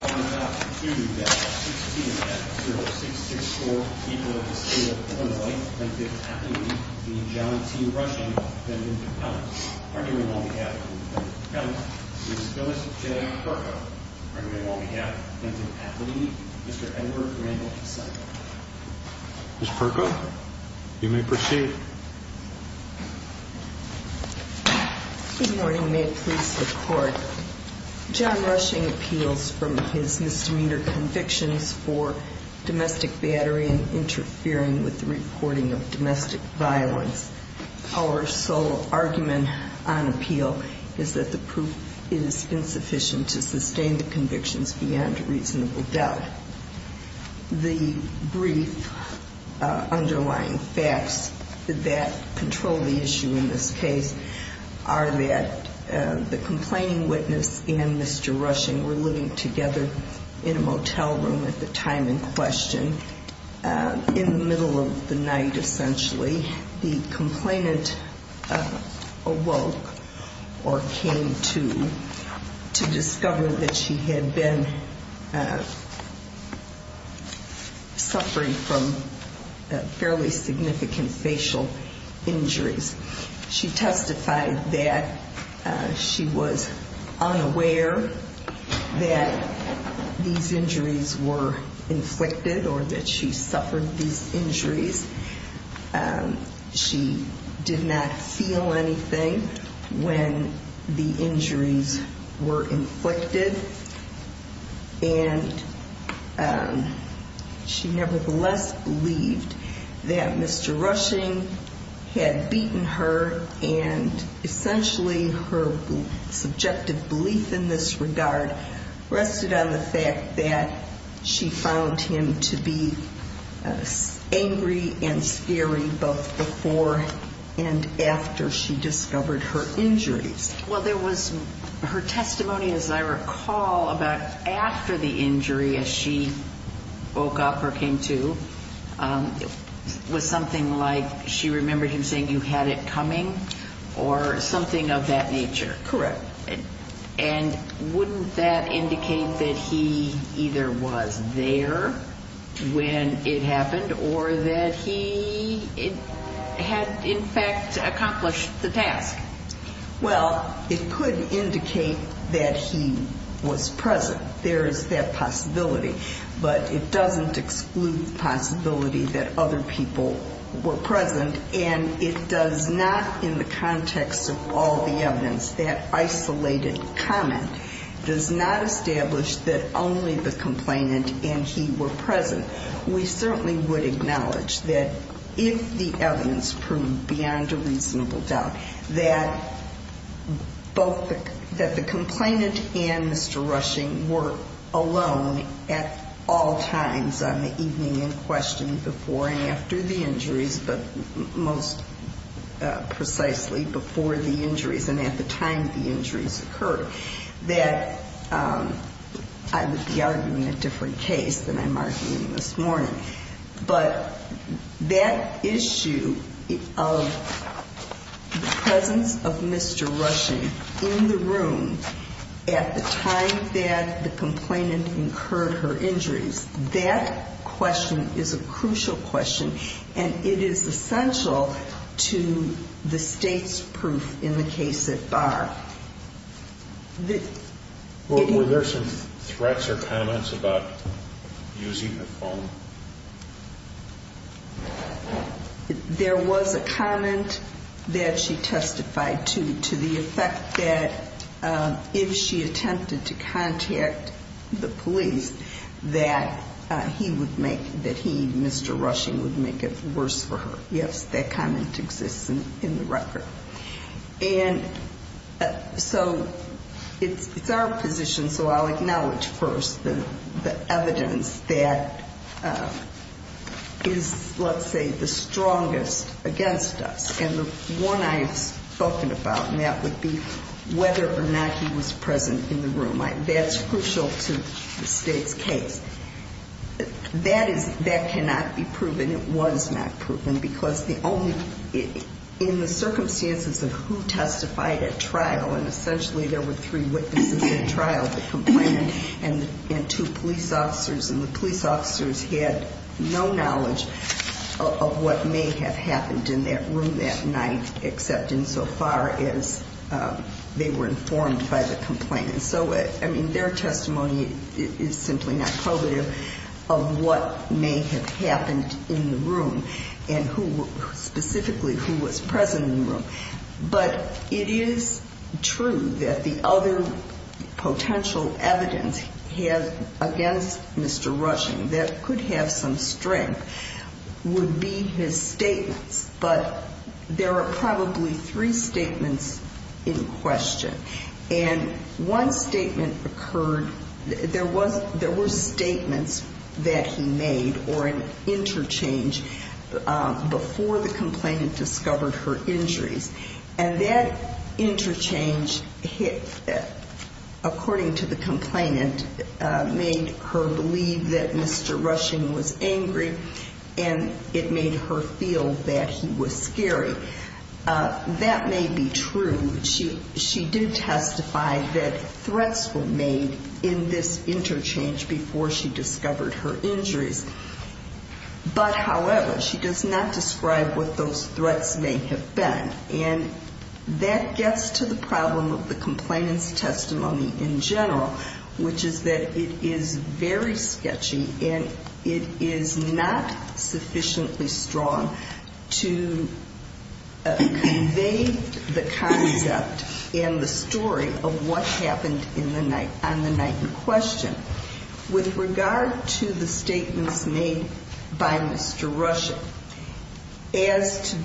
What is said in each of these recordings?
16-F-0664, people of the state of Illinois, plaintiff's affidavit, v. John T. Rushing, defendant of counsel, arguing on behalf of the defendant of counsel, Ms. Phyllis J. Perko, arguing on behalf of the plaintiff's affidavit, Mr. Edward Randolph Simon. Ms. Perko, you may proceed. Good morning. May it please the Court, John Rushing appeals from his misdemeanor convictions for domestic battery and interfering with the reporting of domestic violence. Our sole argument on appeal is that the proof is insufficient to sustain the convictions beyond a reasonable doubt. The brief underlying facts that control the issue in this case are that the complaining witness and Mr. Rushing were living together in a motel room at the time in question. And in the middle of the night, essentially, the complainant awoke or came to to discover that she had been suffering from fairly significant facial injuries. She testified that she was unaware that these injuries were inflicted or that she suffered these injuries. She did not feel anything when the injuries were inflicted. And she nevertheless believed that Mr. Rushing had beaten her. And essentially, her subjective belief in this regard rested on the fact that she found him to be angry and scary both before and after she discovered her injuries. Well, there was her testimony, as I recall, about after the injury as she woke up or came to was something like she remembered him saying you had it coming or something of that nature. Correct. And wouldn't that indicate that he either was there when it happened or that he had, in fact, accomplished the task? Well, it could indicate that he was present. There is that possibility. But it doesn't exclude the possibility that other people were present. And it does not, in the context of all the evidence, that isolated comment does not establish that only the complainant and he were present. We certainly would acknowledge that if the evidence proved beyond a reasonable doubt that both the complainant and Mr. Rushing were alone at all times on the evening in question before and after the injuries, but most precisely before the injuries and at the time the injuries occurred, that I would be arguing a different case than I'm arguing this morning. But that issue of the presence of Mr. Rushing in the room at the time that the complainant incurred her injuries, that question is a crucial question. And it is essential to the state's proof in the case at bar. Were there some threats or comments about using the phone? There was a comment that she testified to, to the effect that if she attempted to contact the police, that he would make, that he, Mr. Rushing, would make it worse for her. Yes, that comment exists in the record. And so it's our position, so I'll acknowledge first the evidence that is, let's say, the strongest against us. And the one I have spoken about, and that would be whether or not he was present in the room, that's crucial to the state's case. That is, that cannot be proven. It was not proven, because the only, in the circumstances of who testified at trial, and essentially there were three witnesses at trial, the complainant and two police officers, and the police officers had no knowledge of what may have happened in that room that night, except insofar as they were informed by the complainant. And so, I mean, their testimony is simply not probative of what may have happened in the room and who, specifically, who was present in the room. But it is true that the other potential evidence he has against Mr. Rushing that could have some strength would be his statements. But there are probably three statements in question. And one statement occurred, there were statements that he made, or an interchange, before the complainant discovered her injuries. And that interchange, according to the complainant, made her believe that Mr. Rushing was angry, and it made her feel that he was scary. That may be true. She did testify that threats were made in this interchange before she discovered her injuries. But, however, she does not describe what those threats may have been. And that gets to the problem of the complainant's testimony in general, which is that it is very sketchy, and it is not sufficiently strong to convey the concept and the story of what happened on the night in question. With regard to the statements made by Mr. Rushing, as to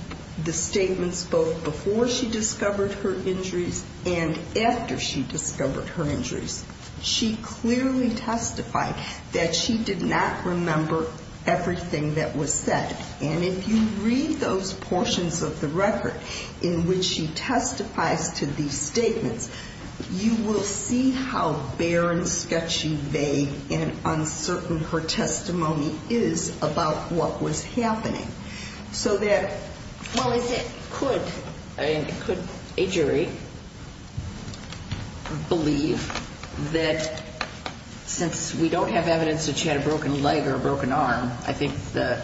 the statements both before she discovered her injuries and after she discovered her injuries, she clearly testified that she did not remember everything that was said. And if you read those portions of the record in which she testifies to these statements, you will see how barren, sketchy, vague, and uncertain her testimony is about what was happening. Could a jury believe that since we don't have evidence that she had a broken leg or a broken arm, I think the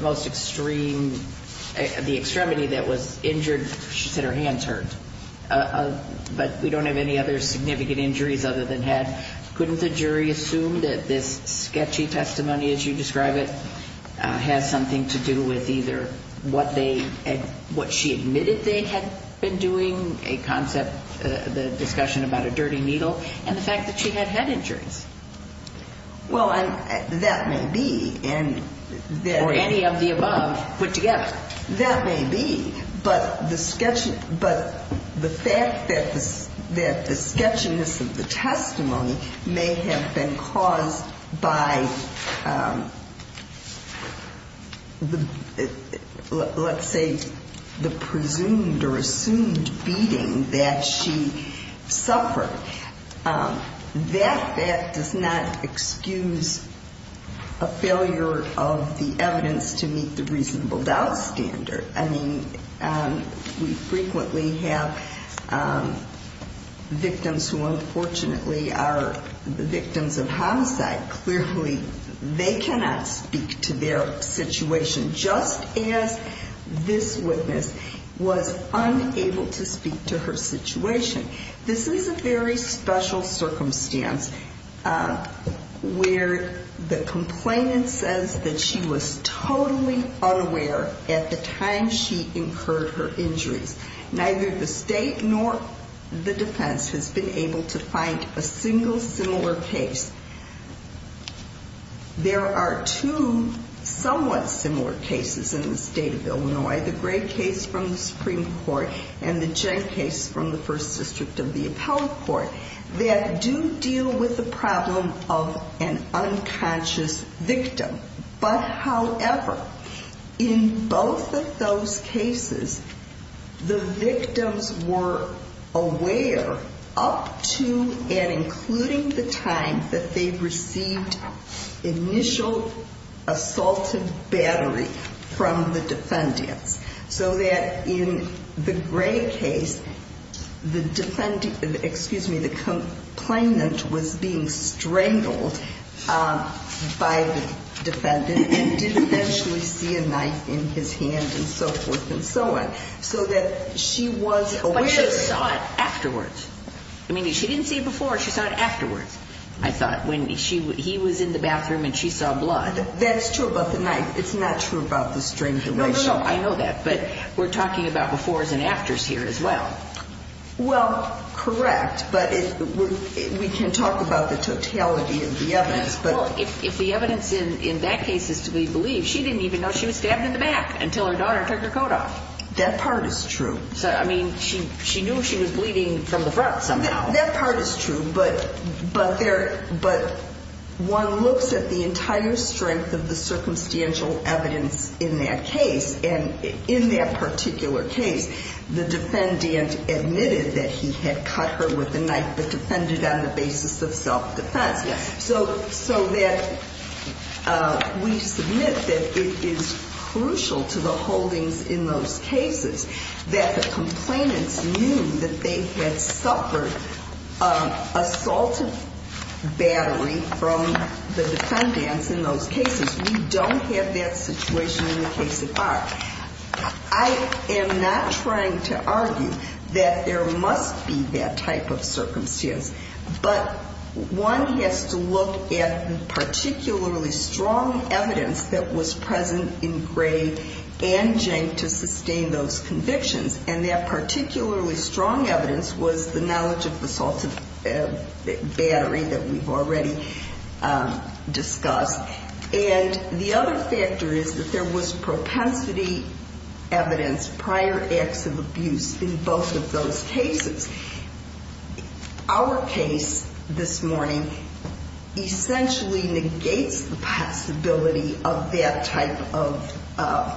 most extreme, the extremity that was injured, she said her hands hurt, but we don't have any other significant injuries other than head. Couldn't the jury assume that this sketchy testimony, as you describe it, has something to do with either what she admitted they had been doing, a concept, the discussion about a dirty needle, and the fact that she had head injuries? Well, that may be. Or any of the above put together. But the fact that the sketchiness of the testimony may have been caused by, let's say, the presumed or assumed beating that she suffered, that fact does not excuse a failure of the evidence to meet the reasonable doubts. I mean, we frequently have victims who, unfortunately, are the victims of homicide. Clearly, they cannot speak to their situation, just as this witness was unable to speak to her situation. This is a very special circumstance where the complainant says that she was totally unaware at the time she incurred her injuries. Neither the state nor the defense has been able to find a single similar case. There are two somewhat similar cases in the state of Illinois, the Gray case from the Supreme Court and the Jen case from the First District of the Appellate Court, that do deal with the problem of an unconscious victim. But, however, in both of those cases, the victims were aware up to and including the time that they received initial assaulted battery from the defendants. So that in the Gray case, the defendant, excuse me, the complainant was being strangled by the defendant and didn't actually see a knife in his hand and so forth and so on. So that she was aware. But she saw it afterwards. I mean, she didn't see it before, she saw it afterwards, I thought, when he was in the bathroom and she saw blood. That's true about the knife. It's not true about the strangulation. No, no, no, I know that. But we're talking about befores and afters here as well. Well, correct. But we can talk about the totality of the evidence. Well, if the evidence in that case is to be believed, she didn't even know she was stabbed in the back until her daughter took her coat off. That part is true. I mean, she knew she was bleeding from the front somehow. That part is true, but one looks at the entire strength of the circumstantial evidence in that case. And in that particular case, the defendant admitted that he had cut her with a knife but defended on the basis of self-defense. So that we submit that it is crucial to the holdings in those cases that the complainants knew that they had suffered assaultive battery from the defendants in those cases. We don't have that situation in the case of ours. I am not trying to argue that there must be that type of circumstance. But one has to look at the particularly strong evidence that was present in Gray and Jenk to sustain those convictions. And that particularly strong evidence was the knowledge of the assaultive battery that we've already discussed. And the other factor is that there was propensity evidence, prior acts of abuse in both of those cases. Our case this morning essentially negates the possibility of that type of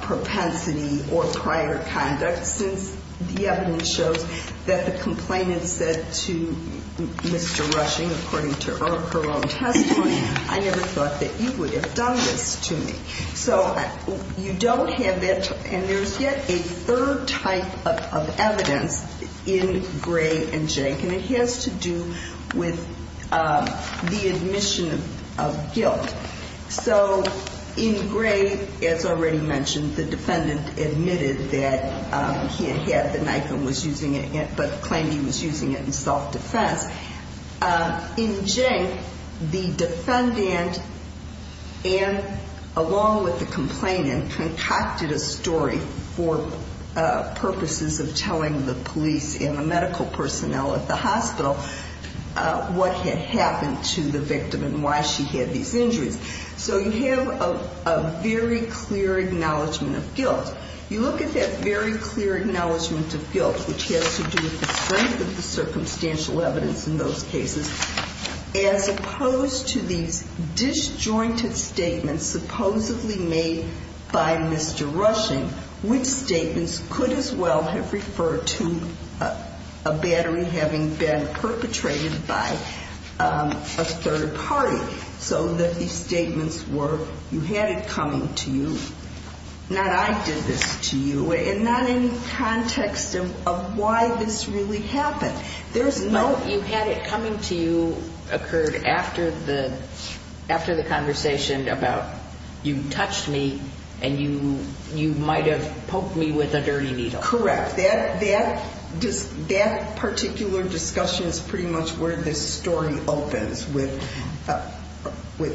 propensity or prior conduct. Since the evidence shows that the complainant said to Mr. Rushing, according to her own testimony, I never thought that you would have done this to me. So you don't have that, and there's yet a third type of evidence in Gray and Jenk. And it has to do with the admission of guilt. So in Gray, as already mentioned, the defendant admitted that he had had the knife and was using it, but claimed he was using it in self-defense. In Jenk, the defendant, along with the complainant, concocted a story for purposes of telling the police and the medical personnel at the hospital what had happened to the victim and why she had these injuries. So you have a very clear acknowledgment of guilt. You look at that very clear acknowledgment of guilt, which has to do with the strength of the circumstantial evidence in those cases, as opposed to these disjointed statements supposedly made by Mr. Rushing, which statements could as well have referred to a battery having been perpetrated by a third party. So that these statements were, you had it coming to you, not I did this to you, and not in context of why this really happened. There's no... But you had it coming to you occurred after the conversation about you touched me and you might have poked me with a dirty needle. Correct. That particular discussion is pretty much where this story opens, with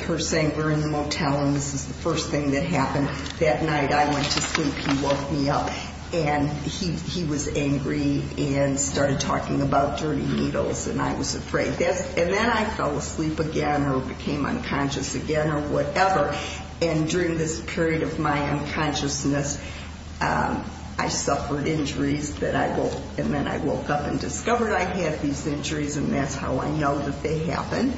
her saying we're in the motel and this is the first thing that happened. That night I went to sleep, he woke me up, and he was angry and started talking about dirty needles, and I was afraid. And then I fell asleep again or became unconscious again or whatever. And during this period of my unconsciousness, I suffered injuries, and then I woke up and discovered I had these injuries, and that's how I know that they happened,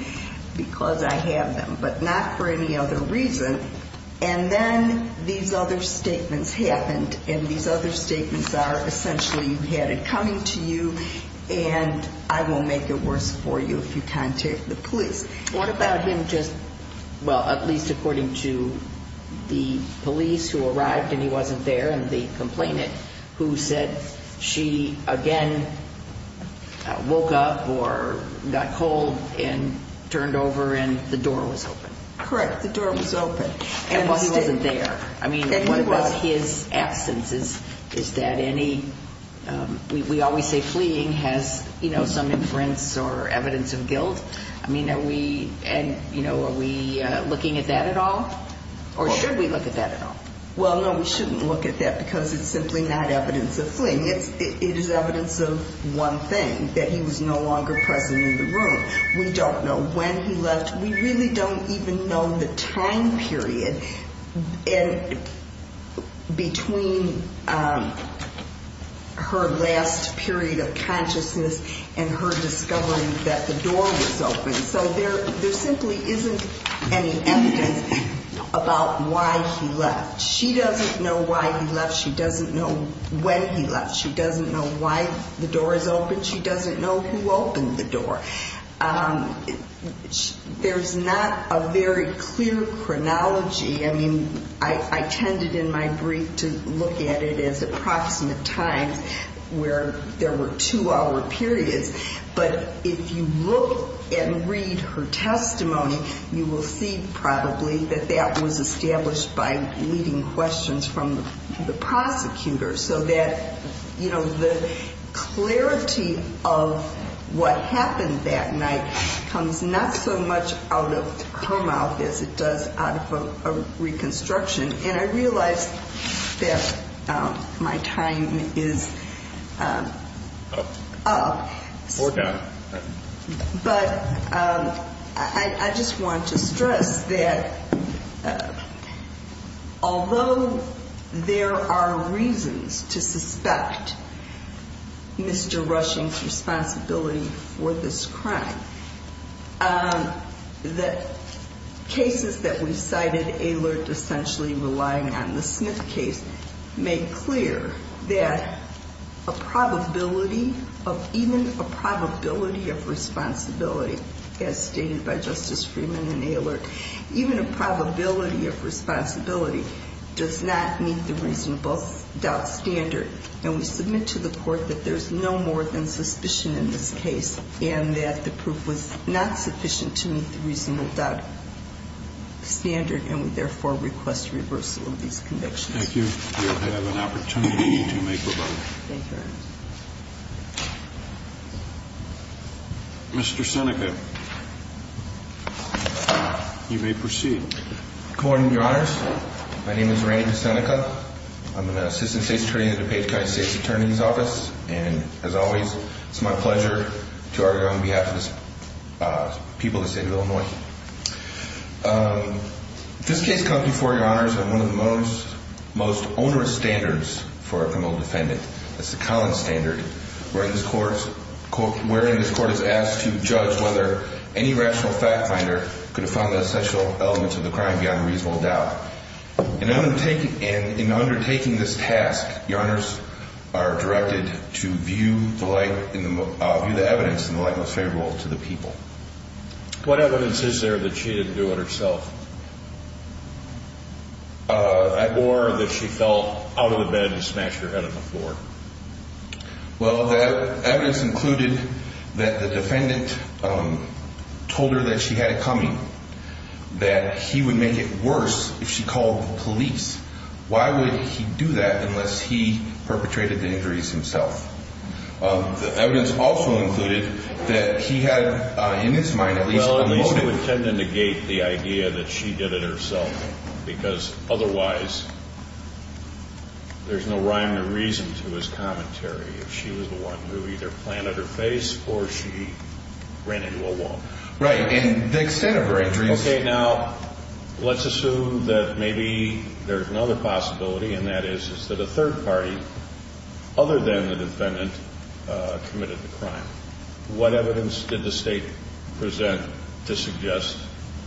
because I have them, but not for any other reason. And then these other statements happened, and these other statements are essentially you had it coming to you, and I won't make it worse for you if you contact the police. What about him just, well, at least according to the police who arrived and he wasn't there, and the complainant who said she again woke up or got cold and turned over and the door was open? Well, he wasn't there. I mean, what about his absence? Is that any, we always say fleeing has some inference or evidence of guilt. I mean, are we looking at that at all, or should we look at that at all? Well, no, we shouldn't look at that, because it's simply not evidence of fleeing. It is evidence of one thing, that he was no longer present in the room. We don't know when he left. We really don't even know the time period between her last period of consciousness and her discovering that the door was open. So there simply isn't any evidence about why he left. She doesn't know why he left. She doesn't know when he left. She doesn't know who opened the door. There's not a very clear chronology. I mean, I tended in my brief to look at it as approximate times where there were two-hour periods. But if you look and read her testimony, you will see probably that that was established by leading questions from the prosecutor so that, you know, the clarity of what happened that night comes not so much out of her mouth as it does out of a reconstruction. And I realize that my time is up. We're done. But I just want to stress that although there are reasons to suspect Mr. Rushing's responsibility for this crime, the cases that we've cited, ALERT essentially relying on the Smith case, make clear that a probability of even a probability of responsibility, as stated by Justice Freeman in ALERT, even a probability of responsibility does not meet the reasonable doubt standard. And we submit to the Court that there's no more than suspicion in this case and that the proof was not sufficient to meet the reasonable doubt standard. And we therefore request reversal of these convictions. Thank you. We'll have an opportunity to make revisions. Thank you, Your Honor. Mr. Seneca, you may proceed. Good morning, Your Honors. My name is Randy Seneca. I'm an Assistant State's Attorney in the DuPage County State's Attorney's Office. And as always, it's my pleasure to argue on behalf of the people of the State of Illinois. This case comes before you, Your Honors, on one of the most onerous standards for a criminal defendant. It's the Collins standard, wherein this Court is asked to judge whether any rational fact finder could have found the essential elements of the crime beyond reasonable doubt. In undertaking this task, Your Honors are directed to view the evidence in the light most favorable to the people. What evidence is there that she didn't do it herself? Or that she fell out of the bed and smashed her head on the floor? Well, the evidence included that the defendant told her that she had it coming, that he would make it worse if she called the police. Why would he do that unless he perpetrated the injuries himself? The evidence also included that he had in his mind at least one motive. Well, at least to attempt to negate the idea that she did it herself, because otherwise there's no rhyme or reason to his commentary if she was the one who either planted her face or she ran into a wall. Right, and the extent of her injuries... Okay, now, let's assume that maybe there's another possibility, and that is that a third party, other than the defendant, committed the crime. What evidence did the State present to suggest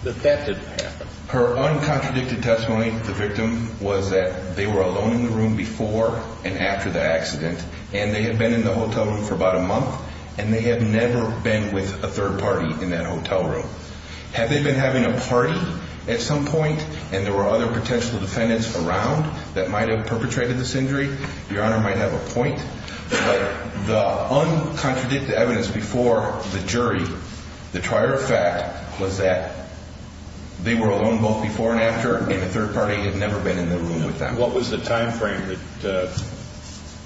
that that didn't happen? Her uncontradicted testimony to the victim was that they were alone in the room before and after the accident, and they had been in the hotel room for about a month, and they had never been with a third party in that hotel room. Had they been having a party at some point, and there were other potential defendants around that might have perpetrated this injury, Your Honor might have a point. But the uncontradicted evidence before the jury, the trier of fact, was that they were alone both before and after, and a third party had never been in the room with them. Your Honor, what was the time frame that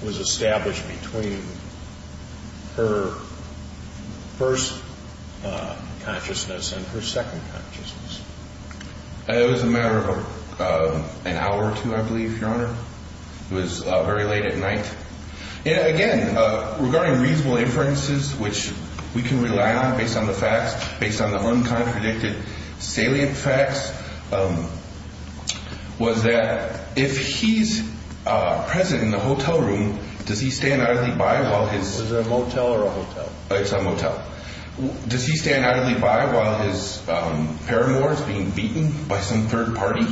was established between her first consciousness and her second consciousness? It was a matter of an hour or two, I believe, Your Honor. It was very late at night. Again, regarding reasonable inferences, which we can rely on based on the facts, the uncontradicted, salient facts was that if he's present in the hotel room, does he stand idly by while his... Was it a motel or a hotel? It's a motel. Does he stand idly by while his paramour is being beaten by some third party?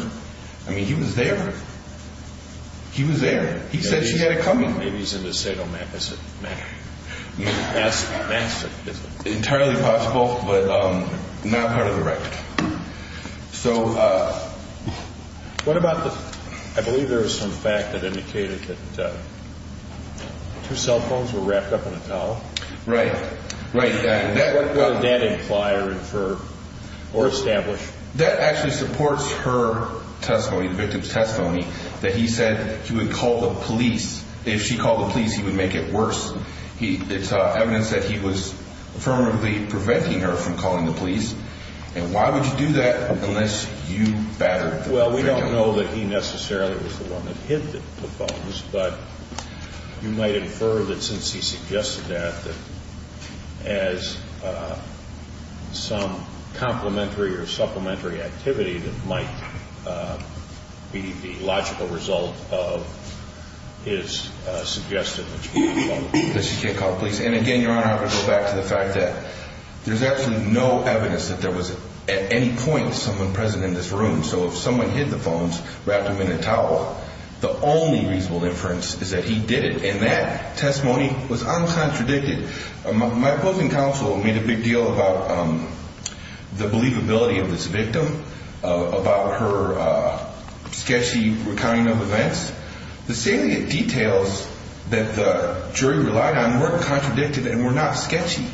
I mean, he was there. He was there. He said she had it coming. Maybe he's in the state office. Entirely possible, but not part of the record. So... What about the... I believe there was some fact that indicated that two cell phones were wrapped up in a towel. Right, right. What does that imply or infer or establish? That actually supports her testimony, the victim's testimony, that he said he would call the police. If she called the police, he would make it worse. It's evidence that he was affirmatively preventing her from calling the police. And why would you do that unless you battered the victim? Well, we don't know that he necessarily was the one that hit the phones, but you might infer that since he suggested that, that as some complementary or supplementary activity that might be the logical result of his suggestion that she should call the police. That she should call the police. And again, Your Honor, I would go back to the fact that there's absolutely no evidence that there was at any point someone present in this room. So if someone hit the phones, wrapped them in a towel, the only reasonable inference is that he did it. And that testimony was uncontradicted. My opposing counsel made a big deal about the believability of this victim. About her sketchy recounting of events. The salient details that the jury relied on weren't contradicted and were not sketchy.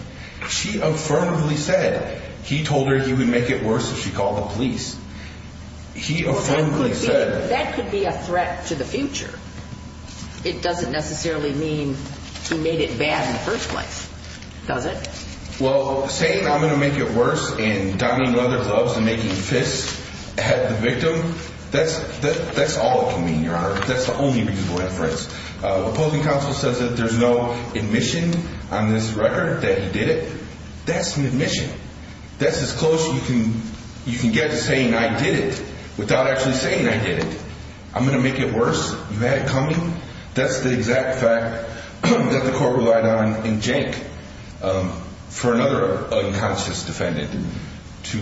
She affirmatively said he told her he would make it worse if she called the police. He affirmatively said. That could be a threat to the future. It doesn't necessarily mean he made it bad in the first place. Does it? Well, saying I'm going to make it worse and donning leather gloves and making fists at the victim, that's all it can mean, Your Honor. That's the only reasonable inference. Opposing counsel says that there's no admission on this record that he did it. That's an admission. That's as close you can get to saying I did it without actually saying I did it. I'm going to make it worse. You had it coming. That's the exact fact that the court relied on in Jake for another unconscious defendant to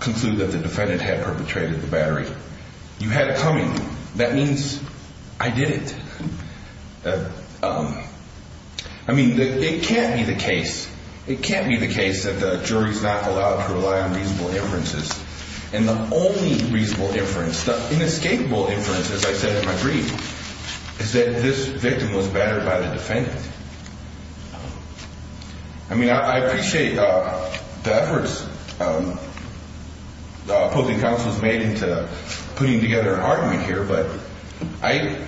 conclude that the defendant had perpetrated the battery. You had it coming. That means I did it. I mean, it can't be the case. It can't be the case that the jury's not allowed to rely on reasonable inferences. And the only reasonable inference, the inescapable inference, as I said in my brief, is that this victim was battered by the defendant. I mean, I appreciate the efforts opposing counsel has made into putting together an argument here, but I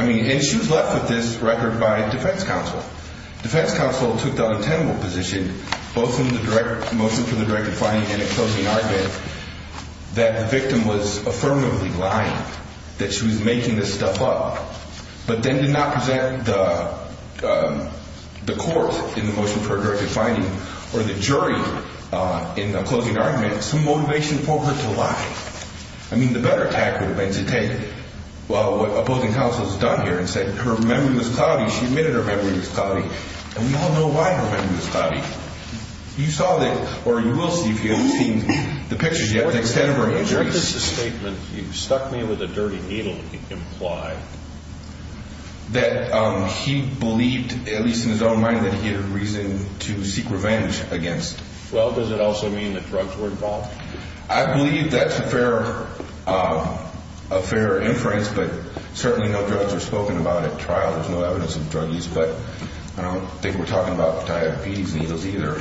mean, and she was left with this record by defense counsel. Defense counsel took the untenable position, both in the motion for the directed finding and the closing argument, that the victim was affirmatively lying, that she was making this stuff up, but then did not present the court in the motion for a directed finding or the jury in the closing argument some motivation for her to lie. I mean, the better tactic would have been to take, well, what opposing counsel has done here and said her memory was cloudy, she admitted her memory was cloudy, and we all know why her memory was cloudy. You saw that, or you will see if you haven't seen the pictures yet, the extent of her injuries. What does the statement, you stuck me with a dirty needle, imply? That he believed, at least in his own mind, that he had a reason to seek revenge against. Well, does it also mean that drugs were involved? I believe that's a fair inference, but certainly no drugs were spoken about at trial. There's no evidence of drug use, but I don't think we're talking about diabetes needles either.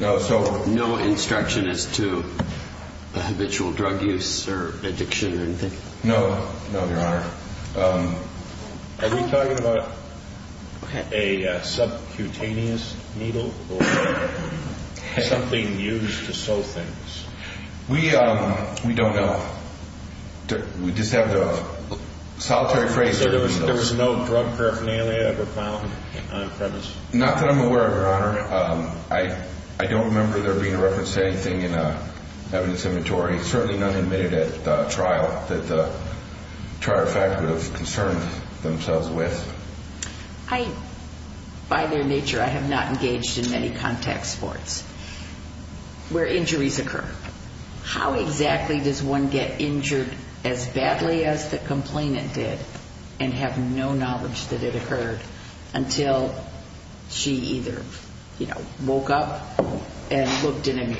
No instruction as to habitual drug use or addiction or anything? No, no, Your Honor. Are we talking about a subcutaneous needle or something used to sew things? We don't know. We just have the solitary phrase. So there was no drug paraphernalia ever found on premise? Not that I'm aware of, Your Honor. I don't remember there being a reference to anything in evidence inventory, certainly not admitted at trial, that the trial de facto have concerned themselves with. By their nature, I have not engaged in any contact sports where injuries occur. How exactly does one get injured as badly as the complainant did and have no knowledge that it occurred until she either woke up and looked in a mirror?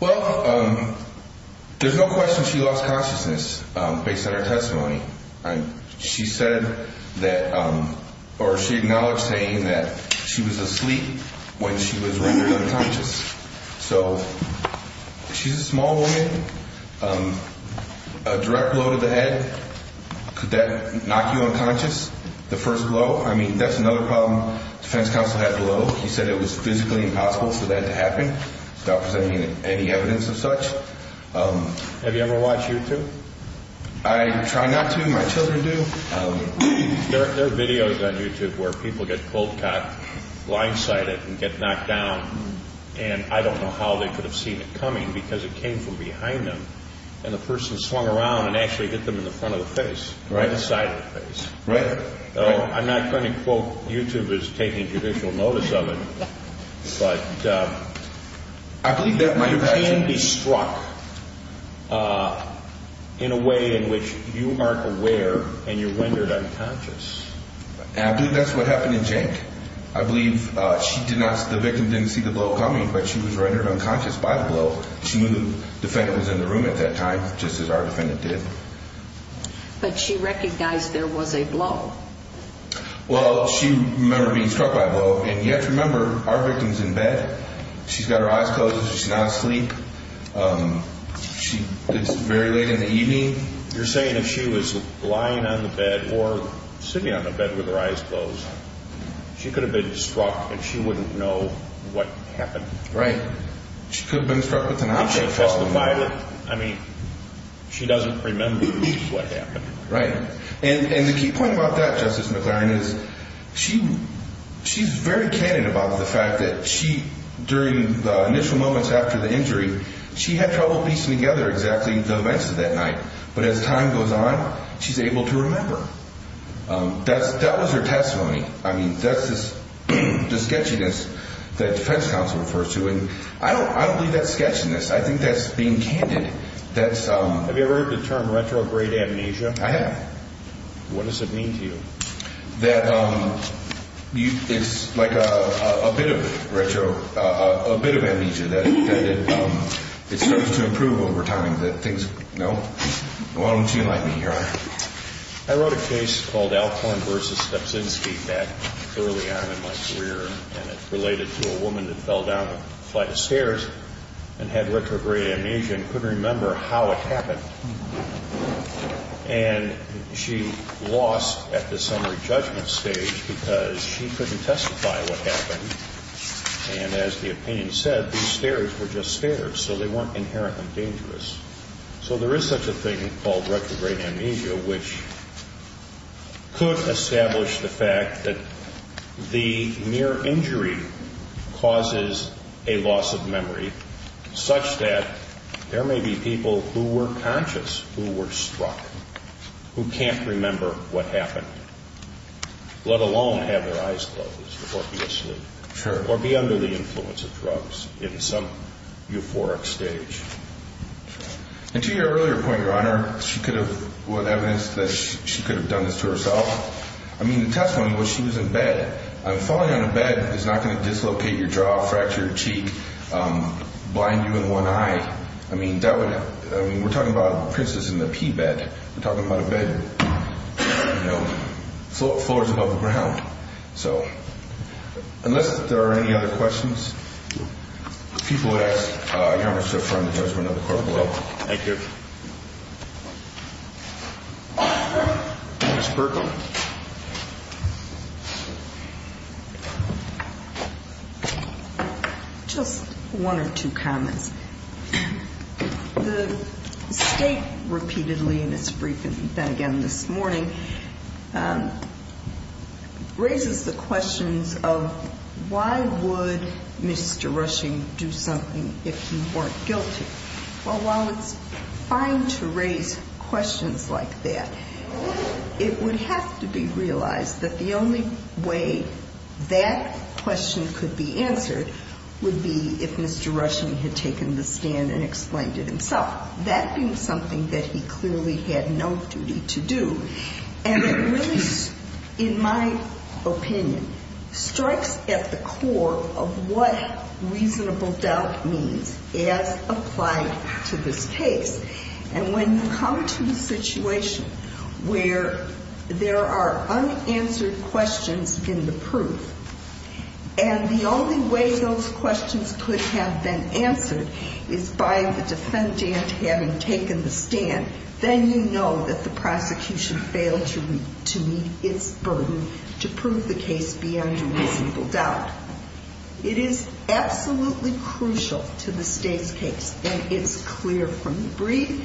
Well, there's no question she lost consciousness based on her testimony. She said that or she acknowledged saying that she was asleep when she was running unconscious. So she's a small woman. A direct blow to the head, could that knock you unconscious, the first blow? I mean, that's another problem the defense counsel had below. He said it was physically impossible for that to happen without presenting any evidence of such. Have you ever watched YouTube? I try not to. My children do. There are videos on YouTube where people get cold cocked, blindsided, and get knocked down. And I don't know how they could have seen it coming because it came from behind them and the person swung around and actually hit them in the front of the face, right side of the face. I'm not trying to quote YouTubers taking judicial notice of it, but you can be struck in a way in which you aren't aware and you're rendered unconscious. And I believe that's what happened in Jake. I believe the victim didn't see the blow coming, but she was rendered unconscious by the blow. She knew the defendant was in the room at that time, just as our defendant did. But she recognized there was a blow. Well, she remembered being struck by a blow. And you have to remember, our victim's in bed. She's got her eyes closed. She's not asleep. It's very late in the evening. You're saying if she was lying on the bed or sitting on the bed with her eyes closed, she could have been struck and she wouldn't know what happened. Right. She could have been struck with an object. I mean, she doesn't remember what happened. Right. And the key point about that, Justice McClaren, is she's very candid about the fact that during the initial moments after the injury, she had trouble piecing together exactly the events of that night. But as time goes on, she's able to remember. That was her testimony. I mean, that's the sketchiness that defense counsel refers to. And I don't believe that's sketchiness. I think that's being candid. Have you ever heard the term retrograde amnesia? I have. What does it mean to you? That it's like a bit of retro, a bit of amnesia that it starts to improve over time, that things, you know. Why don't you enlighten me, Your Honor? I wrote a case called Alcorn v. Stepsinski back early on in my career. And it related to a woman that fell down a flight of stairs and had retrograde amnesia and couldn't remember how it happened. And she lost at the summary judgment stage because she couldn't testify what happened. And as the opinion said, these stairs were just stairs, so they weren't inherently dangerous. So there is such a thing called retrograde amnesia, which could establish the fact that the mere injury causes a loss of memory such that there may be people who were conscious, who were struck, who can't remember what happened, let alone have their eyes closed or be asleep. Sure. And to your earlier point, Your Honor, what evidence that she could have done this to herself, I mean, the testimony was she was in bed. Falling on a bed is not going to dislocate your jaw, fracture your cheek, blind you in one eye. I mean, we're talking about a princess in a pea bed. We're talking about a bed, you know, floors above the ground. So unless there are any other questions, if people would ask, Your Honor, we'll start from the judgment of the court below. Thank you. Ms. Burkham. Just one or two comments. The State repeatedly, and it's been again this morning, raises the questions of why would Mr. Rushing do something if he weren't guilty. Well, while it's fine to raise questions like that, it would have to be realized that the only way that question could be answered would be if Mr. Rushing had taken the stand and explained it himself. That being something that he clearly had no duty to do. And it really, in my opinion, strikes at the core of what reasonable doubt means as applied to this case. And when you come to the situation where there are unanswered questions in the proof and the only way those questions could have been answered is by the defendant having taken the stand, then you know that the prosecution failed to meet its burden to prove the case beyond a reasonable doubt. It is absolutely crucial to the State's case. And it's clear from the brief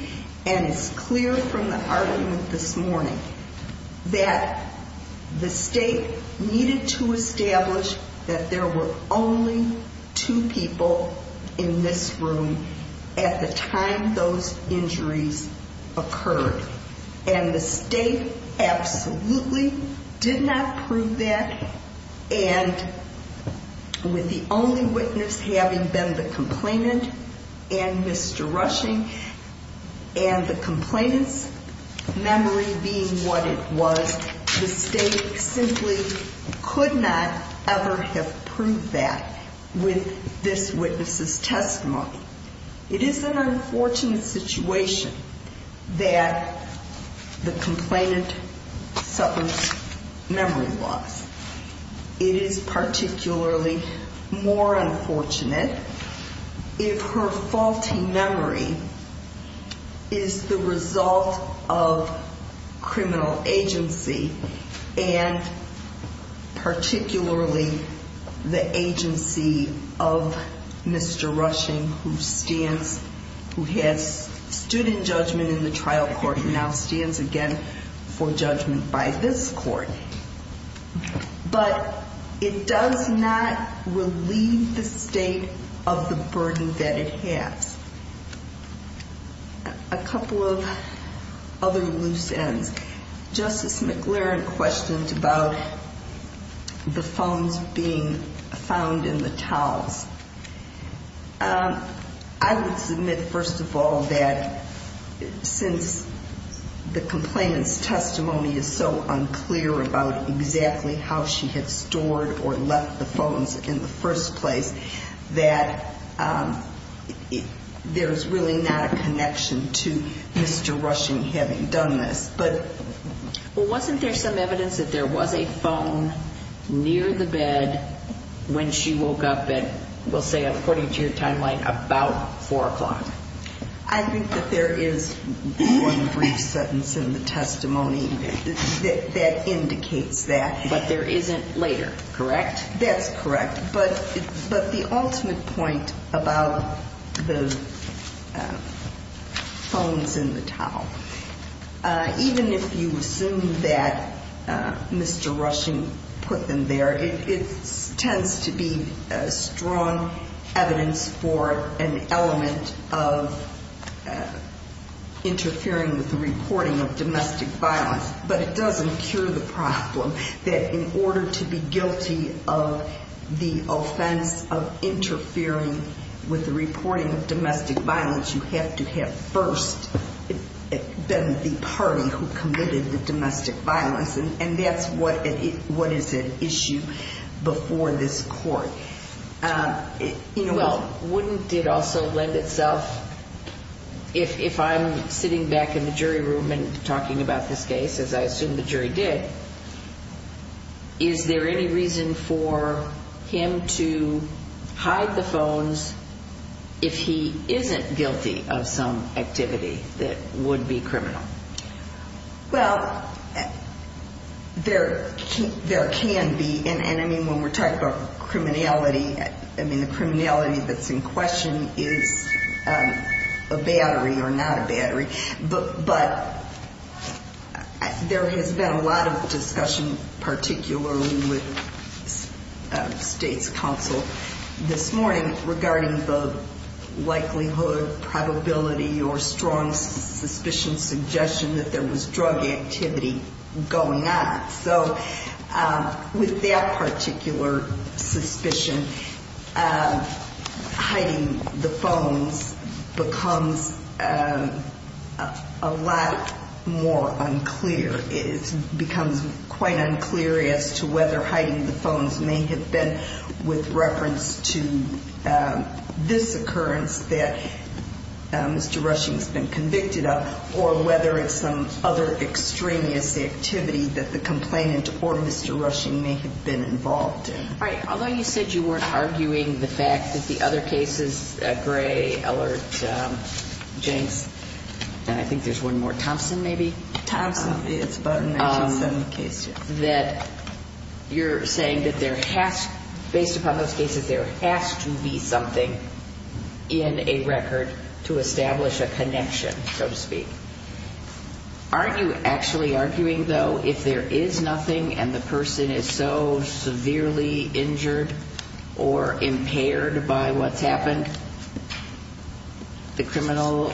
and it's clear from the argument this morning that the State needed to establish that there were only two people in this room at the time those injuries occurred. And the State absolutely did not prove that. And with the only witness having been the complainant and Mr. Rushing and the complainant's memory being what it was, the State simply could not ever have proved that with this witness's testimony. It is an unfortunate situation that the complainant suffers memory loss. It is particularly more unfortunate if her faulty memory is the result of criminal agency and particularly the agency of Mr. Rushing, who has stood in judgment in the trial court and now stands again for judgment by this court. But it does not relieve the State of the burden that it has. A couple of other loose ends. Justice McLaren questioned about the phones being found in the towels. I would submit, first of all, that since the complainant's testimony is so unclear about exactly how she had stored or left the phones in the first place, that there's really not a connection to Mr. Rushing having done this. But wasn't there some evidence that there was a phone near the bed when she woke up that will say, according to your timeline, about 4 o'clock? I think that there is one brief sentence in the testimony that indicates that. But there isn't later, correct? That's correct. But the ultimate point about the phones in the towel, even if you assume that Mr. Rushing put them there, it tends to be strong evidence for an element of interfering with the reporting of domestic violence. But it doesn't cure the problem that in order to be guilty of the offense of interfering with the reporting of domestic violence, you have to have first been the party who committed the domestic violence. And that's what is an issue before this court. Wouldn't it also lend itself, if I'm sitting back in the jury room and talking about this case, as I assume the jury did, is there any reason for him to hide the phones if he isn't guilty of some activity that would be criminal? Well, there can be. And, I mean, when we're talking about criminality, I mean, the criminality that's in question is a battery or not a battery. But there has been a lot of discussion, particularly with State's counsel this morning, regarding the likelihood, probability, or strong suspicion, suggestion that there was drug activity going on. So with that particular suspicion, hiding the phones becomes a lot more unclear. It becomes quite unclear as to whether hiding the phones may have been with reference to this occurrence that Mr. Rushing's been convicted of, or whether it's some other extraneous activity that the complainant or Mr. Rushing may have been involved in. All right. Although you said you weren't arguing the fact that the other cases, Gray, Ellert, Jenks, and I think there's one more, Thompson maybe? Thompson. It's about a 1970 case, yes. That you're saying that there has, based upon those cases, there has to be something in a record to establish a connection, so to speak. Aren't you actually arguing, though, if there is nothing and the person is so severely injured or impaired by what's happened, the criminal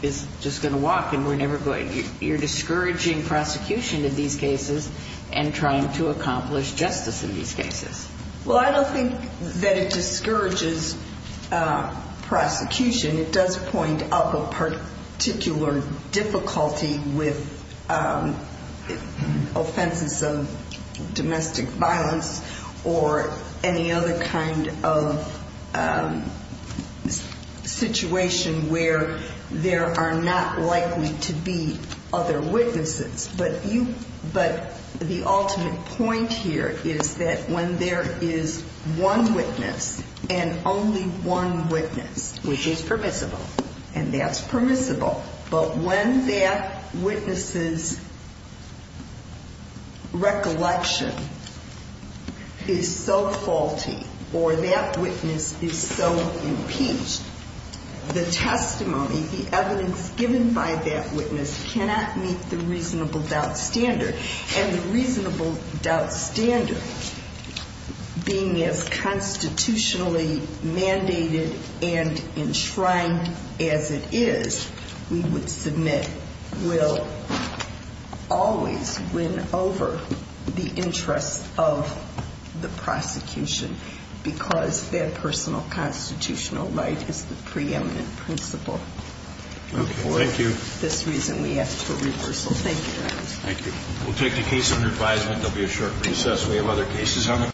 is just going to walk and we're never going to get him? You're discouraging prosecution in these cases and trying to accomplish justice in these cases. Well, I don't think that it discourages prosecution. It does point up a particular difficulty with offenses of domestic violence or any other kind of situation where there are not likely to be other witnesses. But the ultimate point here is that when there is one witness and only one witness. Which is permissible. And that's permissible. But when that witness's recollection is so faulty or that witness is so impeached, the testimony, the evidence given by that witness cannot meet the reasonable doubt standard. And the reasonable doubt standard, being as constitutionally mandated and enshrined as it is, we would submit will always win over the interests of the prosecution because their personal constitutional right is the preeminent principle. Thank you. This reason we ask for reversal. Thank you, Your Honor. Thank you. We'll take the case under advisement. We have other cases on the call.